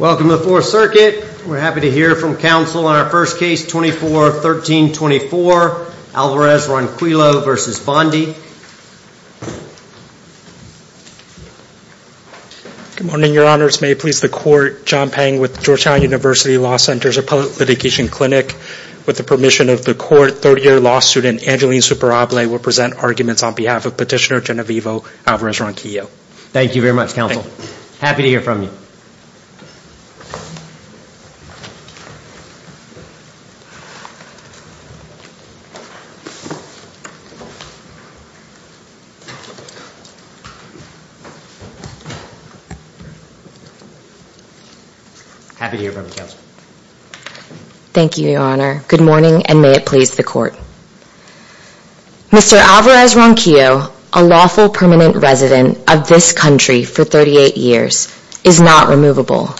Welcome to the Fourth Circuit. We're happy to hear from counsel on our first case 24-13-24 Alvarez Ronquillo versus Bondi. Good morning, Your Honors. May it please the court, John Pang with Georgetown University Law Center's Appellate Litigation Clinic. With the permission of the court, third-year law student Angeline Superable will present arguments on behalf of Petitioner Genovevo Alvarez Ronquillo. Thank you very much, counsel. Happy to hear from you. Thank you, Your Honor. Good morning, and may it please the court. Mr. Alvarez Ronquillo, a lawful permanent resident of this country for 38 years, is not removable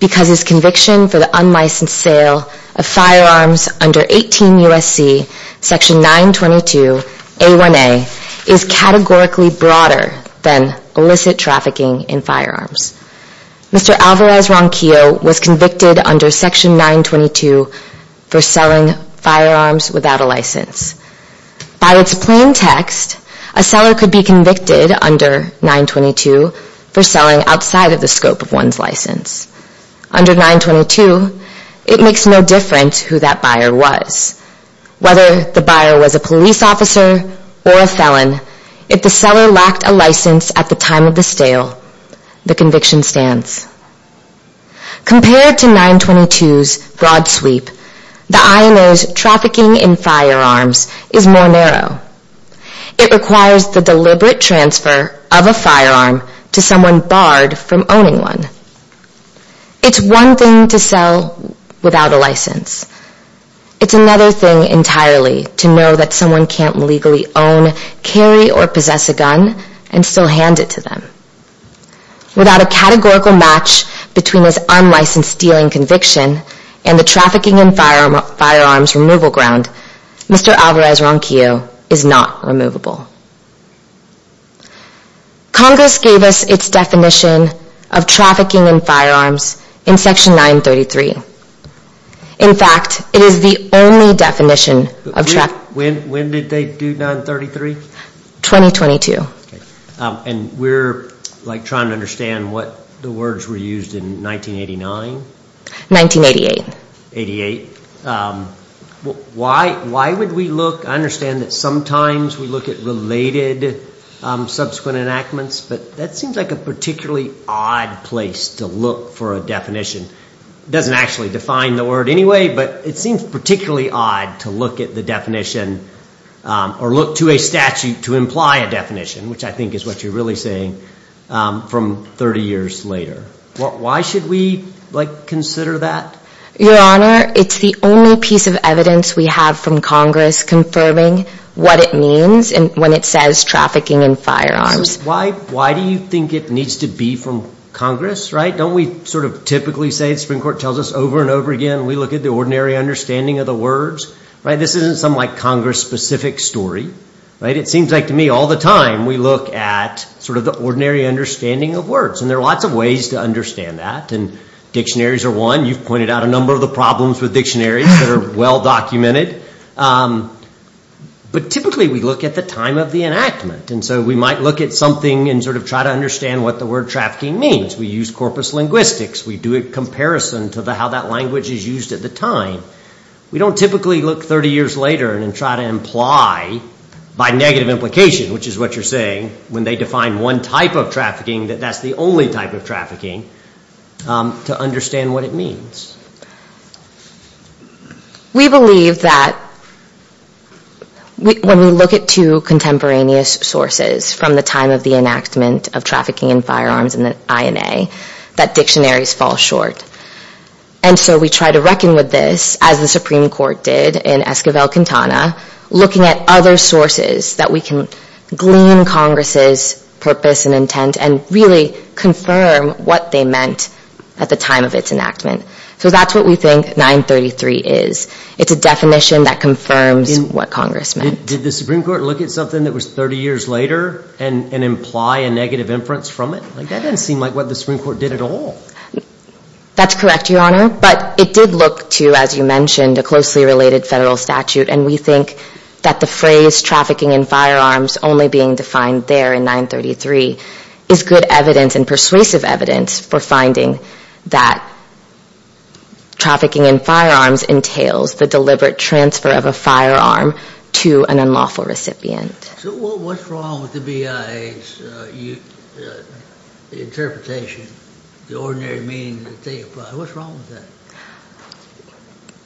because his conviction for the unlicensed sale of firearms under 18 U.S.C. § 922a1a is categorically broader than illicit trafficking in firearms. Mr. Alvarez Ronquillo was convicted under § 922 for selling firearms without a license. By its plain text, a seller could be convicted under § 922 for selling outside of the scope of one's license. Under § 922, it makes no difference who that buyer was. Whether the buyer was a police officer or a felon, if the seller lacked a license at the time of the sale, the conviction stands. Compared to § 922's broad sweep, the IMO's trafficking in firearms is more narrow. It requires the deliberate transfer of a firearm to someone barred from owning one. It's one thing to sell without a license. It's another thing entirely to know that someone can't legally own, carry, or possess a gun and still hand it to them. Without a categorical match between his unlicensed stealing conviction and the trafficking in firearms removal ground, Mr. Alvarez Ronquillo is not removable. Congress gave us its definition of trafficking in firearms in § 933. In fact, it is the only definition of trafficking in firearms. When did they do 933? 2022. And we're trying to understand what the words were used in 1989? 1988. Why would we look? I understand that sometimes we look at related subsequent enactments, but that seems like a particularly odd place to look for a definition. It doesn't actually define the word anyway, but it seems particularly odd to look at the definition or look to a statute to imply a definition, which I think is what you're really saying, from 30 years later. Why should we consider that? Your Honor, it's the only piece of evidence we have from Congress confirming what it means when it says trafficking in firearms. Why do you think it needs to be from Congress? Don't we sort of typically say, the Supreme Court tells us over and over again, we look at the ordinary understanding of the words? This isn't some Congress-specific story. It seems like to me all the time we look at the ordinary understanding of words, and there are lots of ways to understand that. And dictionaries are one. You've pointed out a number of the problems with dictionaries that are well documented. But typically we look at the time of the enactment. And so we might look at something and sort of try to understand what the word trafficking means. We use corpus linguistics. We do a comparison to how that language is used at the time. We don't typically look 30 years later and try to imply, by negative implication, which is what you're saying, when they define one type of trafficking, that that's the only type of trafficking. To understand what it means. We believe that when we look at two contemporaneous sources from the time of the enactment of trafficking in firearms and the INA, that dictionaries fall short. And so we try to reckon with this, as the Supreme Court did in Esquivel-Quintana, looking at other sources that we can glean Congress's purpose and intent and really confirm what they meant at the time of its enactment. So that's what we think 933 is. It's a definition that confirms what Congress meant. Did the Supreme Court look at something that was 30 years later and imply a negative inference from it? That doesn't seem like what the Supreme Court did at all. That's correct, Your Honor. But it did look to, as you mentioned, a closely related federal statute. And we think that the phrase trafficking in firearms only being defined there in 933 is good evidence and persuasive evidence for finding that trafficking in firearms entails the deliberate transfer of a firearm to an unlawful recipient. So what's wrong with the BIA's interpretation, the ordinary meaning that they apply? What's wrong with that?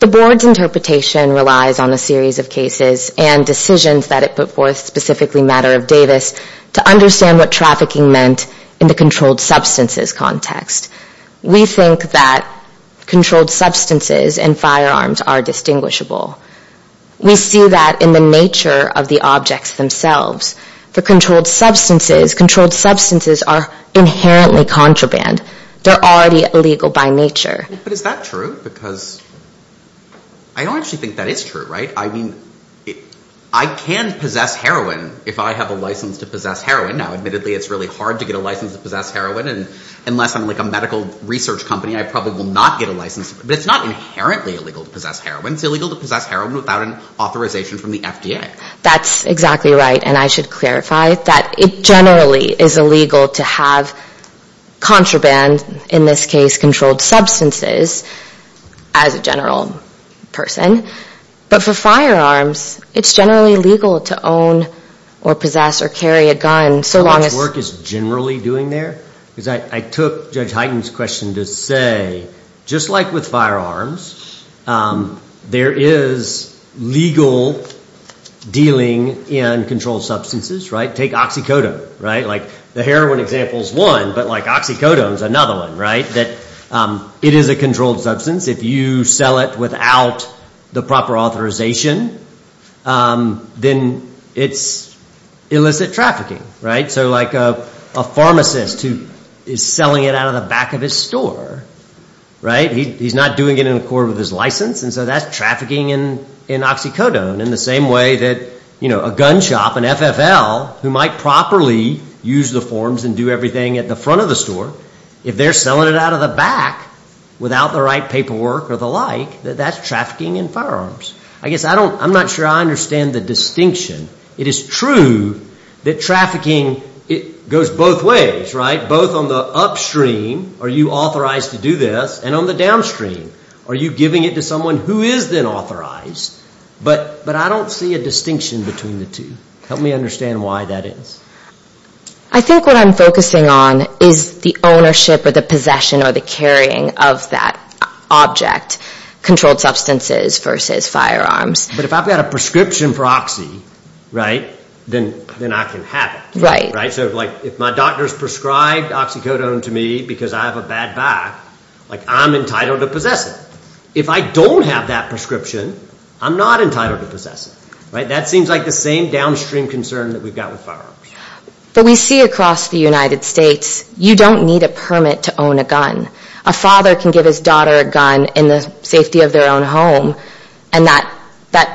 The Board's interpretation relies on a series of cases and decisions that it put forth, specifically Matter of Davis, to understand what trafficking meant in the controlled substances context. We think that controlled substances and firearms are distinguishable. We see that in the nature of the objects themselves. For controlled substances, controlled substances are inherently contraband. They're already illegal by nature. But is that true? Because I don't actually think that is true, right? I mean, I can possess heroin if I have a license to possess heroin. Now, admittedly, it's really hard to get a license to possess heroin. And unless I'm like a medical research company, I probably will not get a license. But it's not inherently illegal to possess heroin. It's illegal to possess heroin without an authorization from the FDA. That's exactly right. And I should clarify that it generally is illegal to have contraband, in this case controlled substances, as a general person. But for firearms, it's generally legal to own or possess or carry a gun so long as... How much work is generally doing there? Because I took Judge Hyten's question to say, just like with firearms, there is legal dealing in controlled substances, right? Take oxycodone, right? The heroin example is one, but oxycodone is another one, right? It is a controlled substance. If you sell it without the proper authorization, then it's illicit trafficking, right? So like a pharmacist who is selling it out of the back of his store, right? He's not doing it in accord with his license. And so that's trafficking in oxycodone in the same way that a gun shop, an FFL, who might properly use the forms and do everything at the front of the store, if they're selling it out of the back without the right paperwork or the like, that that's trafficking in firearms. I guess I'm not sure I understand the distinction. It is true that trafficking goes both ways, right? Both on the upstream, are you authorized to do this? And on the downstream, are you giving it to someone who is then authorized? But I don't see a distinction between the two. Help me understand why that is. I think what I'm focusing on is the ownership or the possession or the carrying of that object, controlled substances versus firearms. But if I've got a prescription for oxy, right, then I can have it, right? So like if my doctor's prescribed oxycodone to me because I have a bad back, like I'm entitled to possess it. If I don't have that prescription, I'm not entitled to possess it, right? That seems like the same downstream concern that we've got with firearms. But we see across the United States, you don't need a permit to own a gun. A father can give his daughter a gun in the safety of their own home and that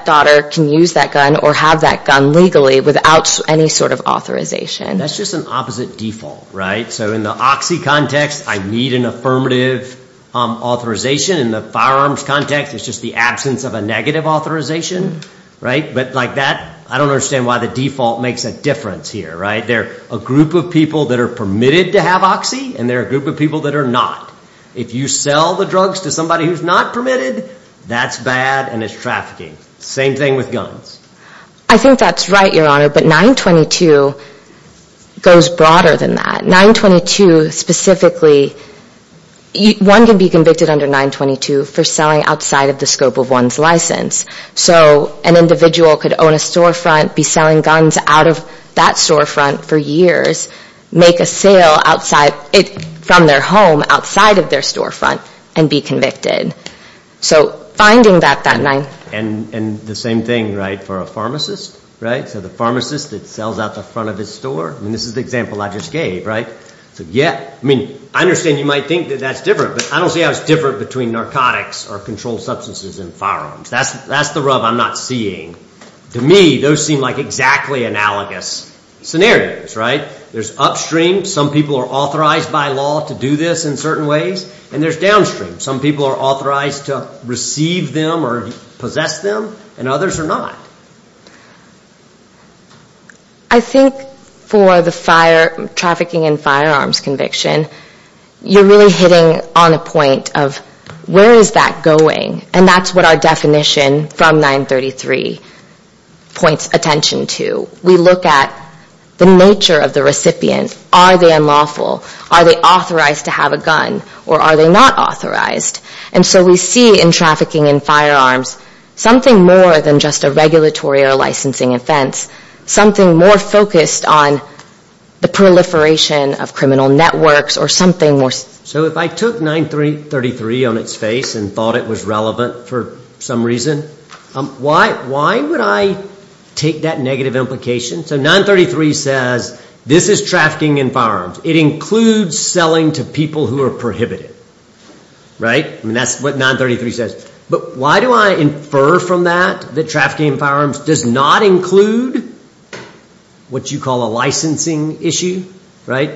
daughter can use that gun or have that gun legally without any sort of authorization. That's just an opposite default, right? So in the oxy context, I need an affirmative authorization. In the firearms context, it's just the absence of a negative authorization, right? But like that, I don't understand why the default makes a difference here, right? There are a group of people that are permitted to have oxy and there are a group of people that are not. If you sell the drugs to somebody who's not permitted, that's bad and it's trafficking. Same thing with guns. I think that's right, Your Honor, but 922 goes broader than that. 922 specifically, one can be convicted under 922 for selling outside of the scope of one's license. So an individual could own a storefront, be selling guns out of that storefront for years, make a sale from their home outside of their storefront and be convicted. So finding that... And the same thing, right, for a pharmacist, right? So the pharmacist that sells out the front of his store. I mean, this is the example I just gave, right? So yeah, I mean, I understand you might think that that's different, but I don't see how it's different between narcotics or controlled substances and firearms. That's the rub I'm not seeing. To me, those seem like exactly analogous scenarios, right? There's upstream, some people are authorized by law to do this in certain ways, and there's downstream. Some people are authorized to receive them or possess them and others are not. I think for the trafficking in firearms conviction, you're really hitting on a point of where is that going? And that's what our definition from 933 points attention to. We look at the nature of the recipient. Are they unlawful? Are they authorized to have a gun or are they not authorized? And so we see in trafficking in firearms something more than just a regulatory or licensing offense, something more focused on the proliferation of criminal networks or something more... So if I took 933 on its face and thought it was relevant for some reason, why would I take that negative implication? So 933 says this is trafficking in firearms. It includes selling to people who are prohibited, right? I mean, that's what 933 says. But why do I infer from that that trafficking in firearms does not include what you call a licensing issue, right?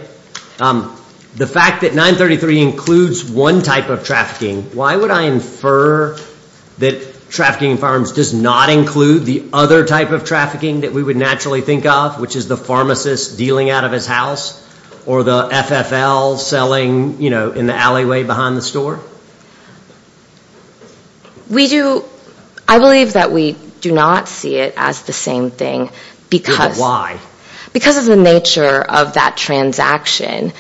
The fact that 933 includes one type of trafficking, why would I infer that trafficking in firearms does not include the other type of trafficking that we would naturally think of, which is the pharmacist dealing out of his house or the FFL selling in the alleyway behind the store? We do... I believe that we do not see it as the same thing because... Why? Because of the nature of that transaction.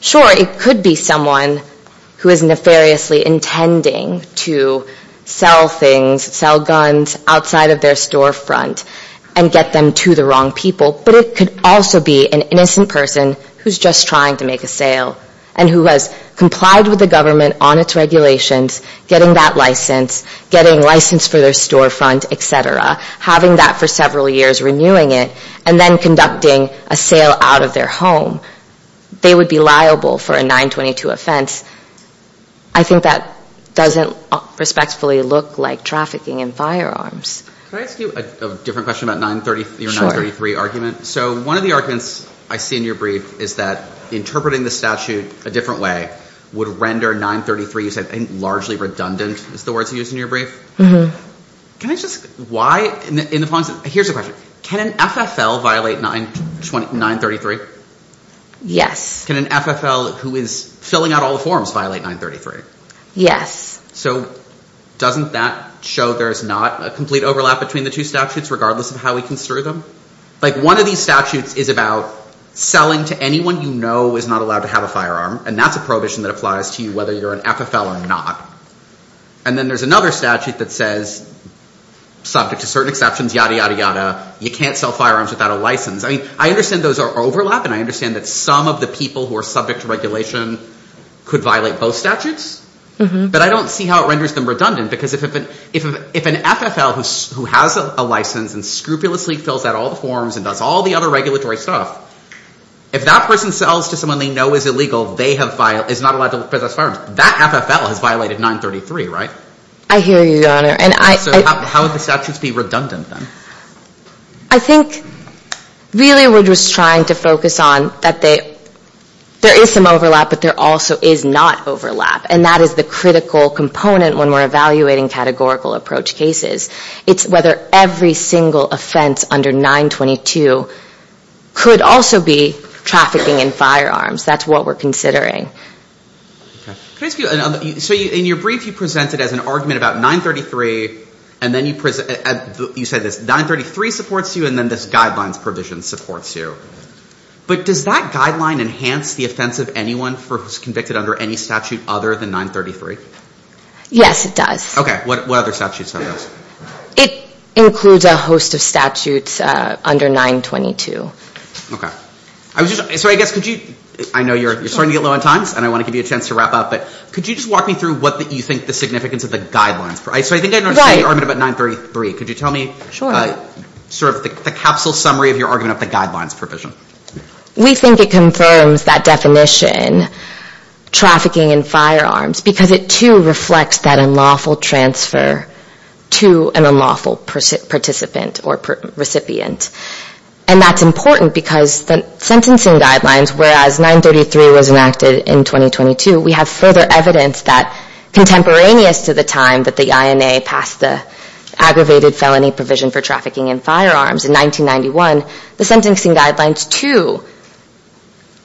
Sure, it could be someone who is nefariously intending to sell things, sell guns outside of their storefront and get them to the wrong people, but it could also be an innocent person who's just trying to make a sale and who has complied with the government on its regulations, getting that license, getting license for their storefront, etc., having that for several years, renewing it, and then conducting a sale out of their home. They would be liable for a 922 offense. I think that doesn't respectfully look like trafficking in firearms. Can I ask you a different question about your 933 argument? So one of the arguments I see in your brief is that interpreting the statute a different way would render 933, you said, largely redundant, is the words you used in your brief. Can I just... Why? Here's the question. Can an FFL violate 933? Yes. Can an FFL who is filling out all the forms violate 933? Yes. So doesn't that show there's not a complete overlap between the two statutes regardless of how we construe them? Like one of these statutes is about selling to anyone you know who is not allowed to have a firearm, and that's a prohibition that applies to you whether you're an FFL or not. And then there's another statute that says, subject to certain exceptions, yada, yada, yada, you can't sell firearms without a license. I mean, I understand those are overlap, and I understand that some of the people who are subject to regulation could violate both statutes, but I don't see how it renders them redundant because if an FFL who has a license and scrupulously fills out all the forms and does all the other regulatory stuff, if that person sells to someone they know is illegal, is not allowed to possess firearms, that FFL has violated 933, right? I hear you, Your Honor. So how would the statutes be redundant then? I think really we're just trying to focus on that there is some overlap but there also is not overlap, and that is the critical component when we're evaluating categorical approach cases. It's whether every single offense under 922 could also be trafficking in firearms. That's what we're considering. So in your brief you presented as an argument about 933 and then you said that 933 supports you and then this guidelines provision supports you. But does that guideline enhance the offense of anyone who is convicted under any statute other than 933? Yes, it does. Okay. What other statutes have those? It includes a host of statutes under 922. Okay. So I guess could you... I know you're starting to get low on time and I want to give you a chance to wrap up but could you just walk me through what you think the significance of the guidelines... So I think I noticed the argument about 933. Could you tell me sort of the capsule summary of your argument of the guidelines provision? We think it confirms that definition, trafficking in firearms, because it too reflects that unlawful transfer to an unlawful participant or recipient. And that's important because the sentencing guidelines, whereas 933 was enacted in 2022, we have further evidence that, contemporaneous to the time that the INA passed the aggravated felony provision for trafficking in firearms in 1991, the sentencing guidelines too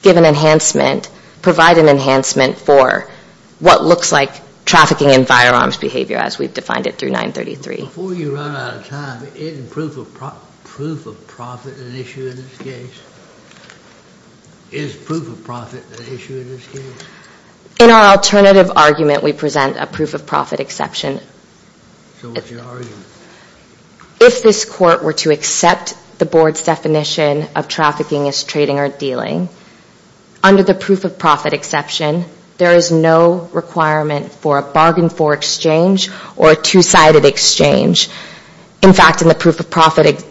give an enhancement, provide an enhancement for what looks like trafficking in firearms behavior as we've defined it through 933. Before you run out of time, isn't proof of profit an issue in this case? Is proof of profit an issue in this case? In our alternative argument we present a proof of profit exception. So what's your argument? If this court were to accept the board's definition of trafficking as trading or dealing, under the proof of profit exception there is no requirement for a bargain for exchange or a two-sided exchange. In fact, in the proof of profit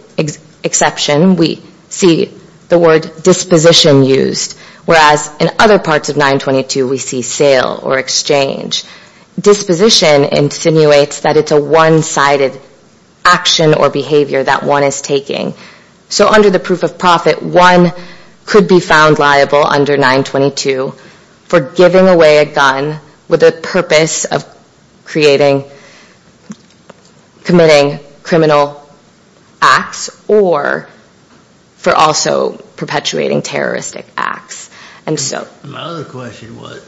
exception we see the word disposition used, whereas in other parts of 922 we see sale or exchange. Disposition insinuates that it's a one-sided action or behavior that one is taking. So under the proof of profit, one could be found liable under 922 for giving away a gun with the purpose of creating, committing criminal acts or for also perpetuating terroristic acts. My other question was,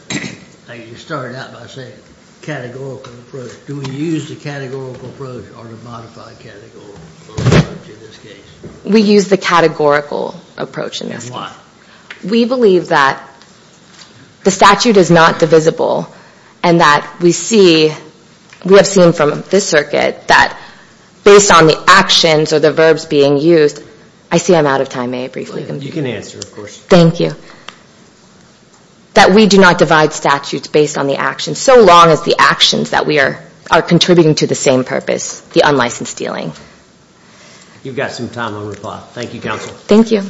you started out by saying categorical approach. Do we use the categorical approach or the modified categorical approach in this case? We use the categorical approach in this case. Why? We believe that the statute is not divisible and that we see, we have seen from this circuit that based on the actions or the verbs being used, I see I'm out of time, may I briefly? You can answer, of course. Thank you. That we do not divide statutes based on the actions, so long as the actions that we are contributing to the same purpose, the unlicensed dealing. You've got some time on your clock. Thank you, counsel. Thank you.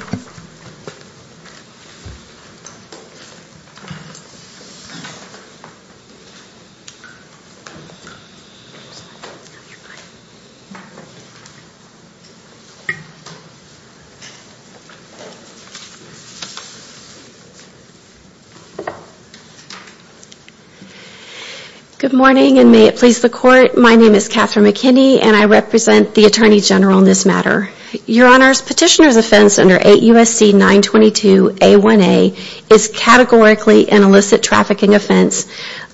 Good morning and may it please the court. My name is Catherine McKinney and I represent the Attorney General in this matter. Your Honor, petitioner's offense under 8 U.S.C. 922-A1A is categorically an illicit trafficking offense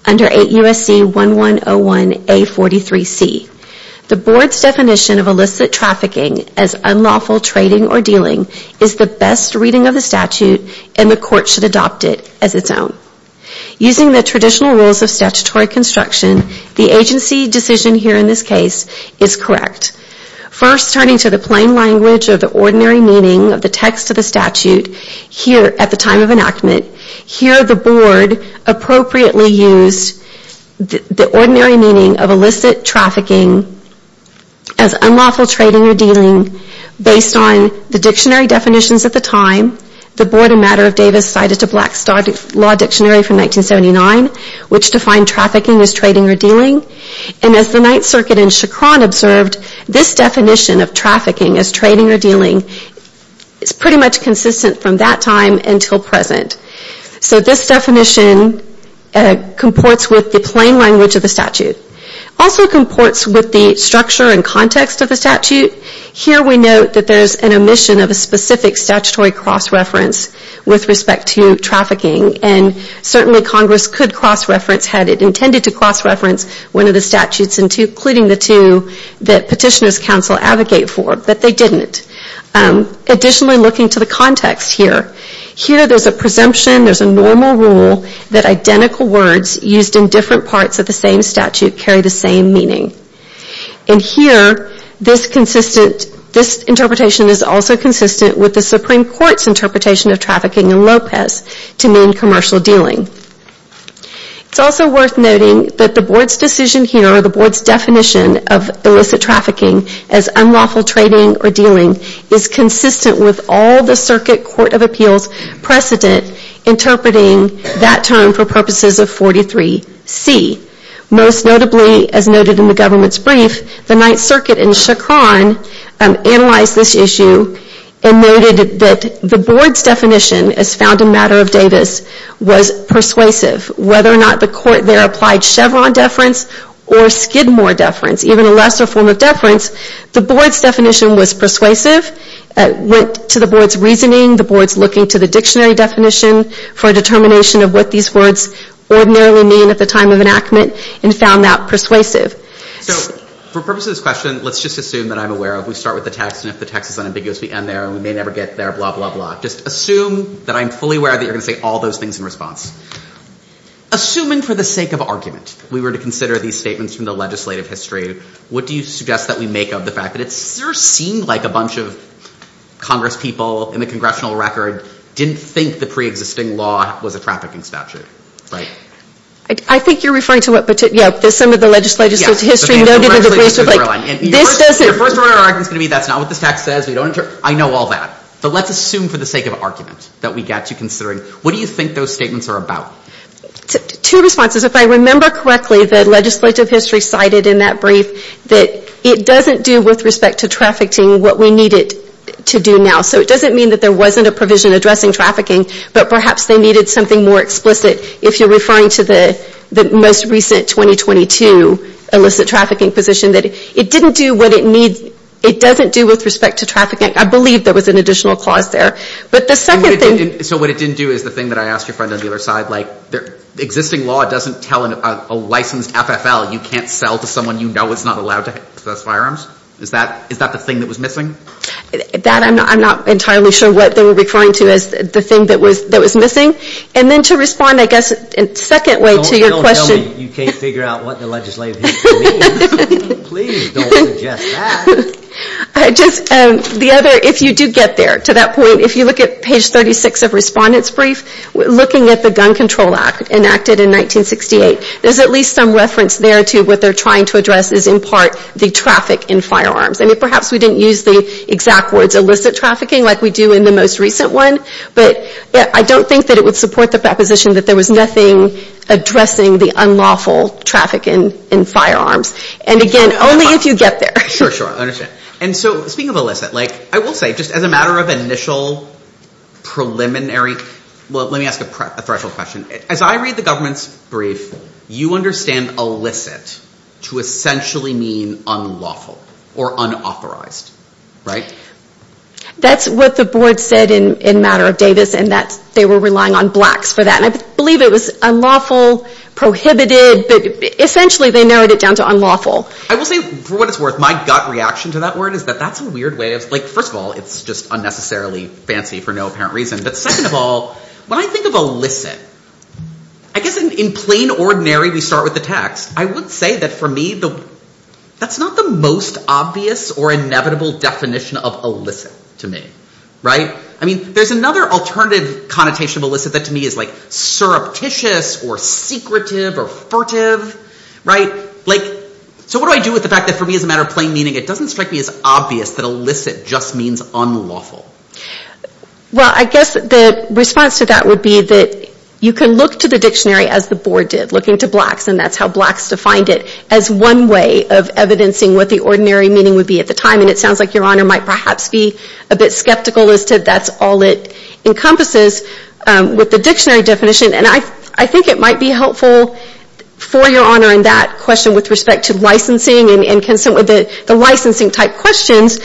under 8 U.S.C. 1101-A43C. The board's definition of illicit trafficking as unlawful trading or dealing is the best reading of the statute and the court should adopt it as its own. Using the traditional rules of statutory construction, the agency decision here in this case is correct. First, turning to the plain language of the ordinary meaning of the text of the statute here at the time of enactment, here the board appropriately used the ordinary meaning of illicit trafficking as unlawful trading or dealing based on the dictionary definitions at the time. The Board of Matter of Davis cited the Black Star Law Dictionary from 1979 which defined trafficking as trading or dealing and as the Ninth Circuit in Chacron observed, this definition of trafficking as trading or dealing is pretty much consistent from that time until present. So this definition comports with the plain language of the statute. It also comports with the structure and context of the statute. Here we note that there's an omission of a specific statutory cross-reference with respect to trafficking and certainly Congress could cross-reference had it intended to cross-reference one of the statutes including the two that petitioners counsel advocate for, but they didn't. Additionally, looking to the context here, here there's a presumption, there's a normal rule that identical words used in different parts of the same statute carry the same meaning. And here, this interpretation is also consistent with the Supreme Court's interpretation of trafficking in Lopez to mean commercial dealing. It's also worth noting that the board's decision here or the board's definition of illicit trafficking as unlawful trading or dealing is consistent with all the circuit Court of Appeals precedent interpreting that term for purposes of 43C. Most notably, as noted in the government's brief, the Ninth Circuit in Chacron analyzed this issue and noted that the board's definition as found in Matter of Davis was persuasive. Whether or not the court there applied Chevron deference or Skidmore deference, even a lesser form of deference, the board's definition was persuasive, went to the board's reasoning, the board's looking to the dictionary definition for a determination of what these words ordinarily mean at the time of enactment and found that persuasive. So, for purposes of this question, let's just assume that I'm aware of, we start with the text and if the text is unambiguous we end there and we may never get there, blah, blah, blah. Just assume that I'm fully aware that you're going to say all those things in response. Assuming for the sake of argument we were to consider these statements from the legislative history, what do you suggest that we make of the fact that it sort of seemed like a bunch of Congress people in the congressional record didn't think the pre-existing law was a trafficking statute, right? I think you're referring to what particular, yeah, some of the legislative history noted in the brief. The first of our argument is going to be that's not what this text says, we don't, I know all that. But let's assume for the sake of argument that we get to considering what do you think those statements are about? Two responses. If I remember correctly, the legislative history cited in that brief that it doesn't do with respect to trafficking what we need it to do now. So it doesn't mean that there wasn't a provision addressing trafficking, but perhaps they needed something more explicit if you're referring to the most recent 2022 illicit trafficking position that it didn't do what it needs, it doesn't do with respect to trafficking. I believe there was an additional clause there. But the second thing... So what it didn't do is the thing that I asked your friend on the other side. Existing law doesn't tell a licensed FFL you can't sell to someone you know who's not allowed to access firearms? Is that the thing that was missing? That I'm not entirely sure what they were referring to as the thing that was missing. And then to respond, I guess, in a second way to your question... Don't tell me you can't figure out what the legislative history means. Please don't suggest that. I just, the other, if you do get there to that point, if you look at page 36 of Respondent's Brief, looking at the Gun Control Act enacted in 1968, there's at least some reference there to what they're trying to address is in part the traffic in firearms. I mean, perhaps we didn't use the exact words illicit trafficking like we do in the most recent one. But I don't think that it would support the proposition that there was nothing addressing the unlawful traffic in firearms. And again, only if you get there. Sure, sure. I understand. And so, speaking of illicit, like, I will say, just as a matter of initial preliminary... Well, let me ask a threshold question. As I read the government's brief, you understand illicit to essentially mean unlawful or unauthorized, right? That's what the board said in Matter of Davis and that they were relying on blacks for that. And I believe it was unlawful, prohibited, but essentially they narrowed it down to unlawful. I will say, for what it's worth, my gut reaction to that word is that that's a weird way of... Like, first of all, it's just unnecessarily fancy for no apparent reason. But second of all, when I think of illicit, I guess in plain ordinary, we start with the text. I would say that for me, that's not the most obvious or inevitable definition of illicit to me, right? I mean, there's another alternative connotation of illicit that to me is like surreptitious or secretive or furtive, right? Like, so what do I do with the fact that for me as a matter of plain meaning, it doesn't strike me as obvious that illicit just means unlawful. Well, I guess the response to that would be that you can look to the dictionary as the board did, looking to blacks. And that's how blacks defined it as one way of evidencing what the ordinary meaning would be at the time. And it sounds like Your Honor might perhaps be a bit skeptical as to that's all it encompasses with the dictionary definition. And I think it might be helpful for Your Honor in that question with respect to licensing and consent with the licensing type questions.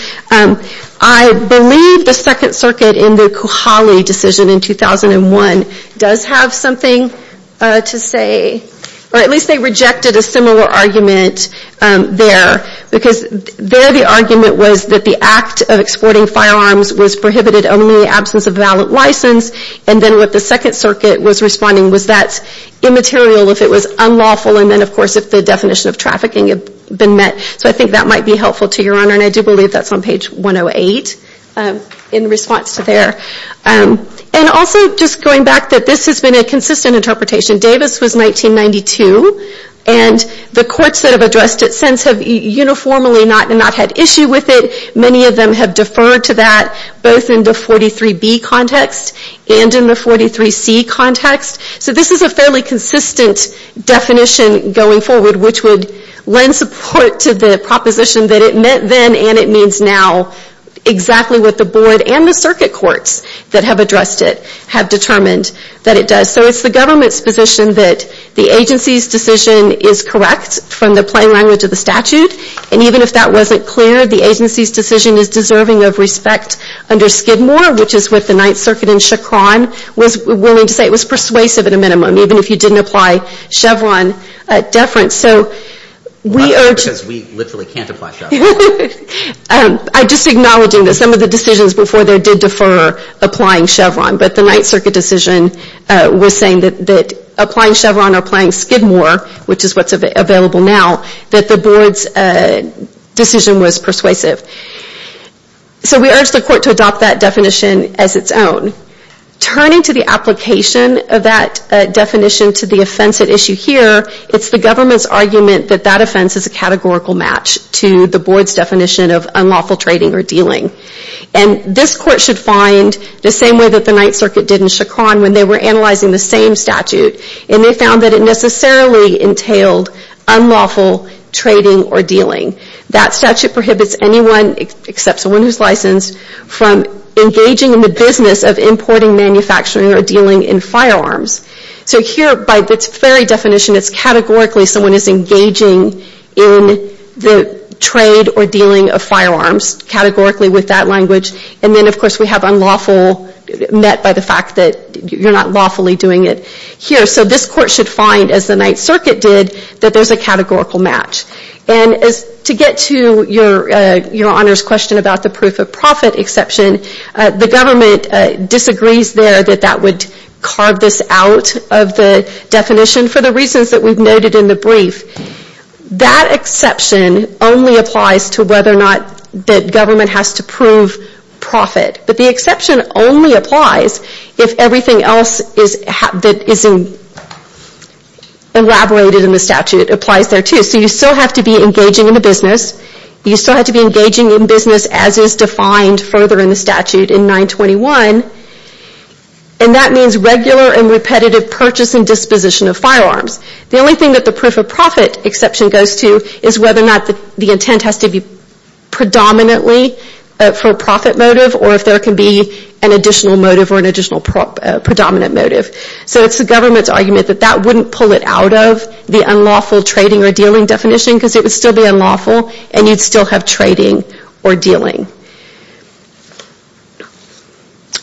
I believe the Second Circuit in the Kohali decision in 2001 does have something to say. Or at least they rejected a similar argument there because there the argument was that the act of exporting firearms was prohibited only in the absence of a valid license. And then what the Second Circuit was responding was that's immaterial if it was unlawful. And then, of course, if the definition of trafficking had been met. So I think that might be helpful to Your Honor. And I do believe that's on page 108 in response to there. And also just going back that this has been a consistent interpretation. Davis was 1992 and the courts that have addressed it since have uniformly not had issue with it. Many of them have deferred to that both in the 43B context and in the 43C context. So this is a fairly consistent definition going forward which would lend support to the proposition that it meant then and it means now exactly what the Board and the Circuit Courts that have addressed it have determined that it does. So it's the government's position that the agency's decision is correct from the plain language of the statute. And even if that wasn't clear, the agency's decision is deserving of respect under Skidmore, which is what the Ninth Circuit and Chacron was willing to say. It was persuasive at a minimum even if you didn't apply Chevron deference. So we urge... Not because we literally can't apply Chevron. I'm just acknowledging that some of the decisions before there did defer applying Chevron, but the Ninth Circuit decision was saying that applying Chevron or applying Skidmore, which is what's available now, that the Board's decision was persuasive. So we urge the Court to adopt that definition as its own. Turning to the application of that definition to the offense at issue here, it's the government's argument that that offense is a categorical match to the Board's definition of unlawful trading or dealing. And this Court should find the same way that the Ninth Circuit did in Chacron when they were analyzing the same statute and they found that it necessarily entailed unlawful trading or dealing. That statute prohibits anyone, except someone who's licensed, from engaging in the business of importing, manufacturing, or dealing in firearms. So here, by its very definition, it's categorically someone is engaging in the trade or dealing of firearms, categorically with that language. And then, of course, we have unlawful met by the fact that you're not lawfully doing it here. So this Court should find, as the Ninth Circuit did, that there's a categorical match. And to get to your Honor's question about the proof of profit exception, the government disagrees there that that would carve this out of the definition for the reasons that we've noted in the brief. That exception only applies to whether or not the government has to prove profit. But the exception only applies if everything else that isn't elaborated in the statute applies there, too. So you still have to be engaging in the business. You still have to be engaging in business as is defined further in the statute in 921. And that means regular and repetitive purchase and disposition of firearms. The only thing that the proof of profit exception goes to is whether or not the intent has to be predominantly for profit motive, or if there can be an additional motive or an additional predominant motive. So it's the government's argument that that wouldn't pull it out of the unlawful trading or dealing definition because it would still be unlawful and you'd still have trading or dealing.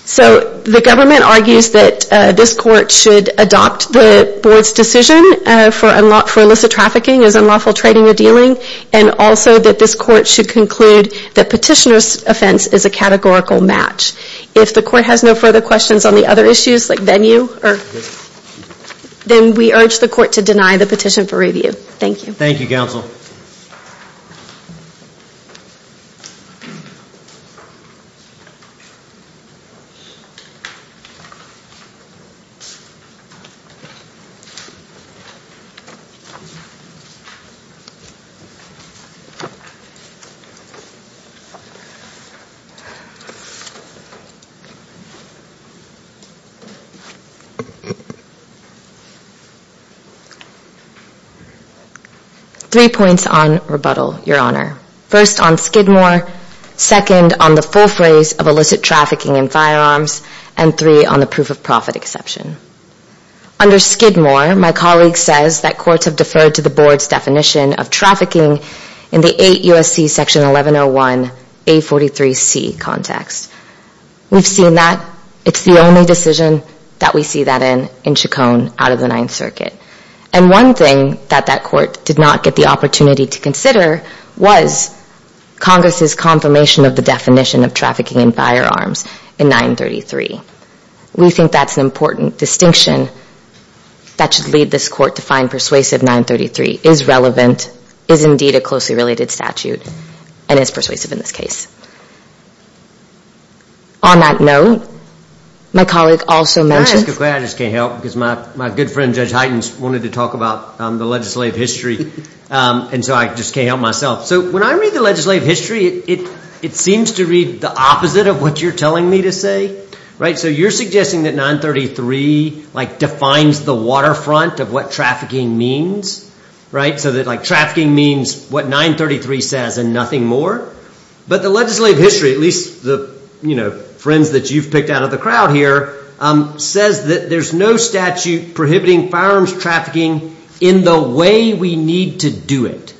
So the government argues that this Court should adopt the Board's decision for illicit trafficking as unlawful trading or dealing and also that this Court should conclude that petitioner's offense is a categorical match. If the Court has no further questions on the other issues, like venue, then we urge the Court to deny the petition for review. Thank you. Thank you, Counsel. Three points on rebuttal, Your Honor. First, on Skidmore. Second, on the full phrase of illicit trafficking in firearms. And three, on the proof of profit exception. Under Skidmore, my colleague says that courts have deferred to the Board's definition of trafficking in the 8 U.S.C. Section 1101 A43C context. We've seen that. It's the only decision that we see that in in Chacon out of the Ninth Circuit. And one thing that that Court did not get the opportunity to consider was Congress's confirmation of the definition of trafficking in firearms in 933. We think that's an important distinction that should lead this Court to find persuasive 933 is relevant, is indeed a closely related statute, and is persuasive in this case. On that note, my colleague also mentions... I'm just going to clarify, I just can't help because my good friend, Judge Hytens, wanted to talk about the legislative history. And so I just can't help myself. So when I read the legislative history, it seems to read the opposite of what you're telling me to say, right? So you're suggesting that 933 like defines the waterfront of what trafficking means, right? So that like trafficking means what 933 says and nothing more? But the legislative history, at least the, you know, friends that you've picked out of the crowd here, says that there's no statute prohibiting firearms trafficking in the way we need to do it.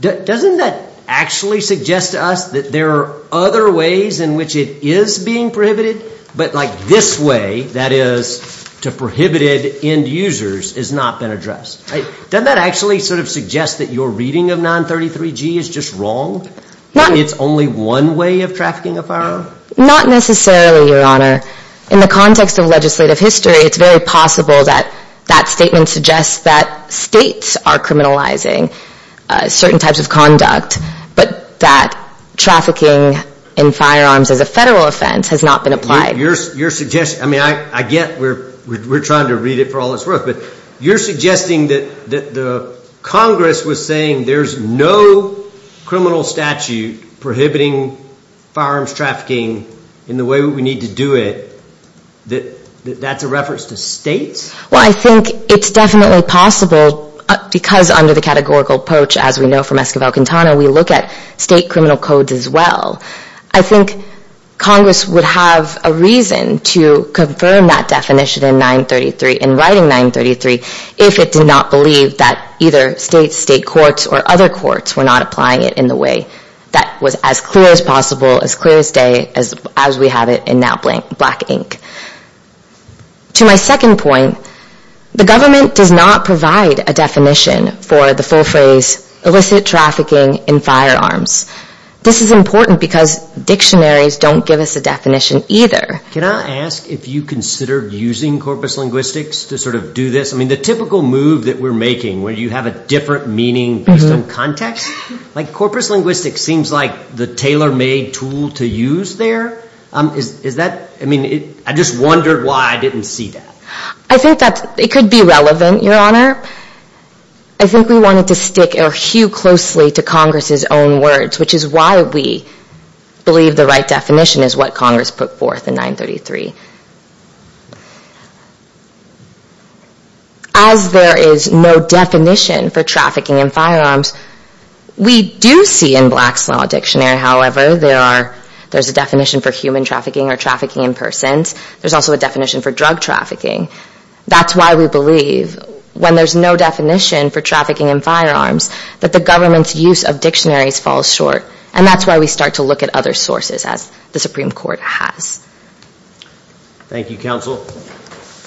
Doesn't that actually suggest to us that there are other ways in which it is being prohibited, but like this way, that is, to prohibited end users has not been addressed? Doesn't that actually sort of suggest that your reading of 933G is just wrong? It's only one way of trafficking a firearm? Not necessarily, Your Honor. In the context of legislative history, it's very possible that that statement suggests that states are criminalizing certain types of conduct, but that trafficking in firearms as a federal offense has not been applied. Your suggestion, I mean, I get we're trying to read it for all it's worth, but you're suggesting that the Congress was saying there's no criminal statute prohibiting firearms trafficking in the way we need to do it, that that's a reference to states? Well, I think it's definitely possible because under the categorical approach as we know from Esquivel-Quintana, we look at state criminal codes as well. I think Congress would have a reason to confirm that definition in 933, in writing 933, if it did not believe that either state courts or other courts were not applying it in the way that was as clear as possible, as clear as day as we have it in that blank black ink. To my second point, the government does not provide a definition for the full phrase illicit trafficking in firearms. This is important because dictionaries don't give us a definition either. Can I ask if you considered using corpus linguistics to sort of do this? I mean, the typical move that we're making where you have a different meaning based on context, like corpus linguistics seems like the tailor-made tool to use there. Is that, I mean, I just wondered why I didn't see that. I think that it could be relevant, Your Honor. I think we wanted to stick or hue closely to Congress's own words, which is why we believe the right definition is what Congress put forth in 933. As there is no definition for trafficking in firearms, we do see in Black's Law Dictionary, however, there's a definition for human trafficking or trafficking in persons. There's also a definition for drug trafficking. That's why we believe when there's no definition for trafficking in firearms that the government's use of dictionaries falls short. And that's why we start to look at other sources as the Supreme Court has. Thank you, Counsel.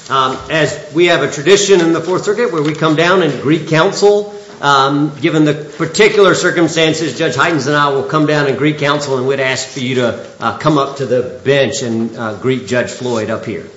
As we have a tradition in the Fourth Circuit where we come down and greet counsel, given the particular circumstances, Judge Hytens and I will come down and greet counsel and we'd ask for you to come up to the bench and greet Judge Floyd up here.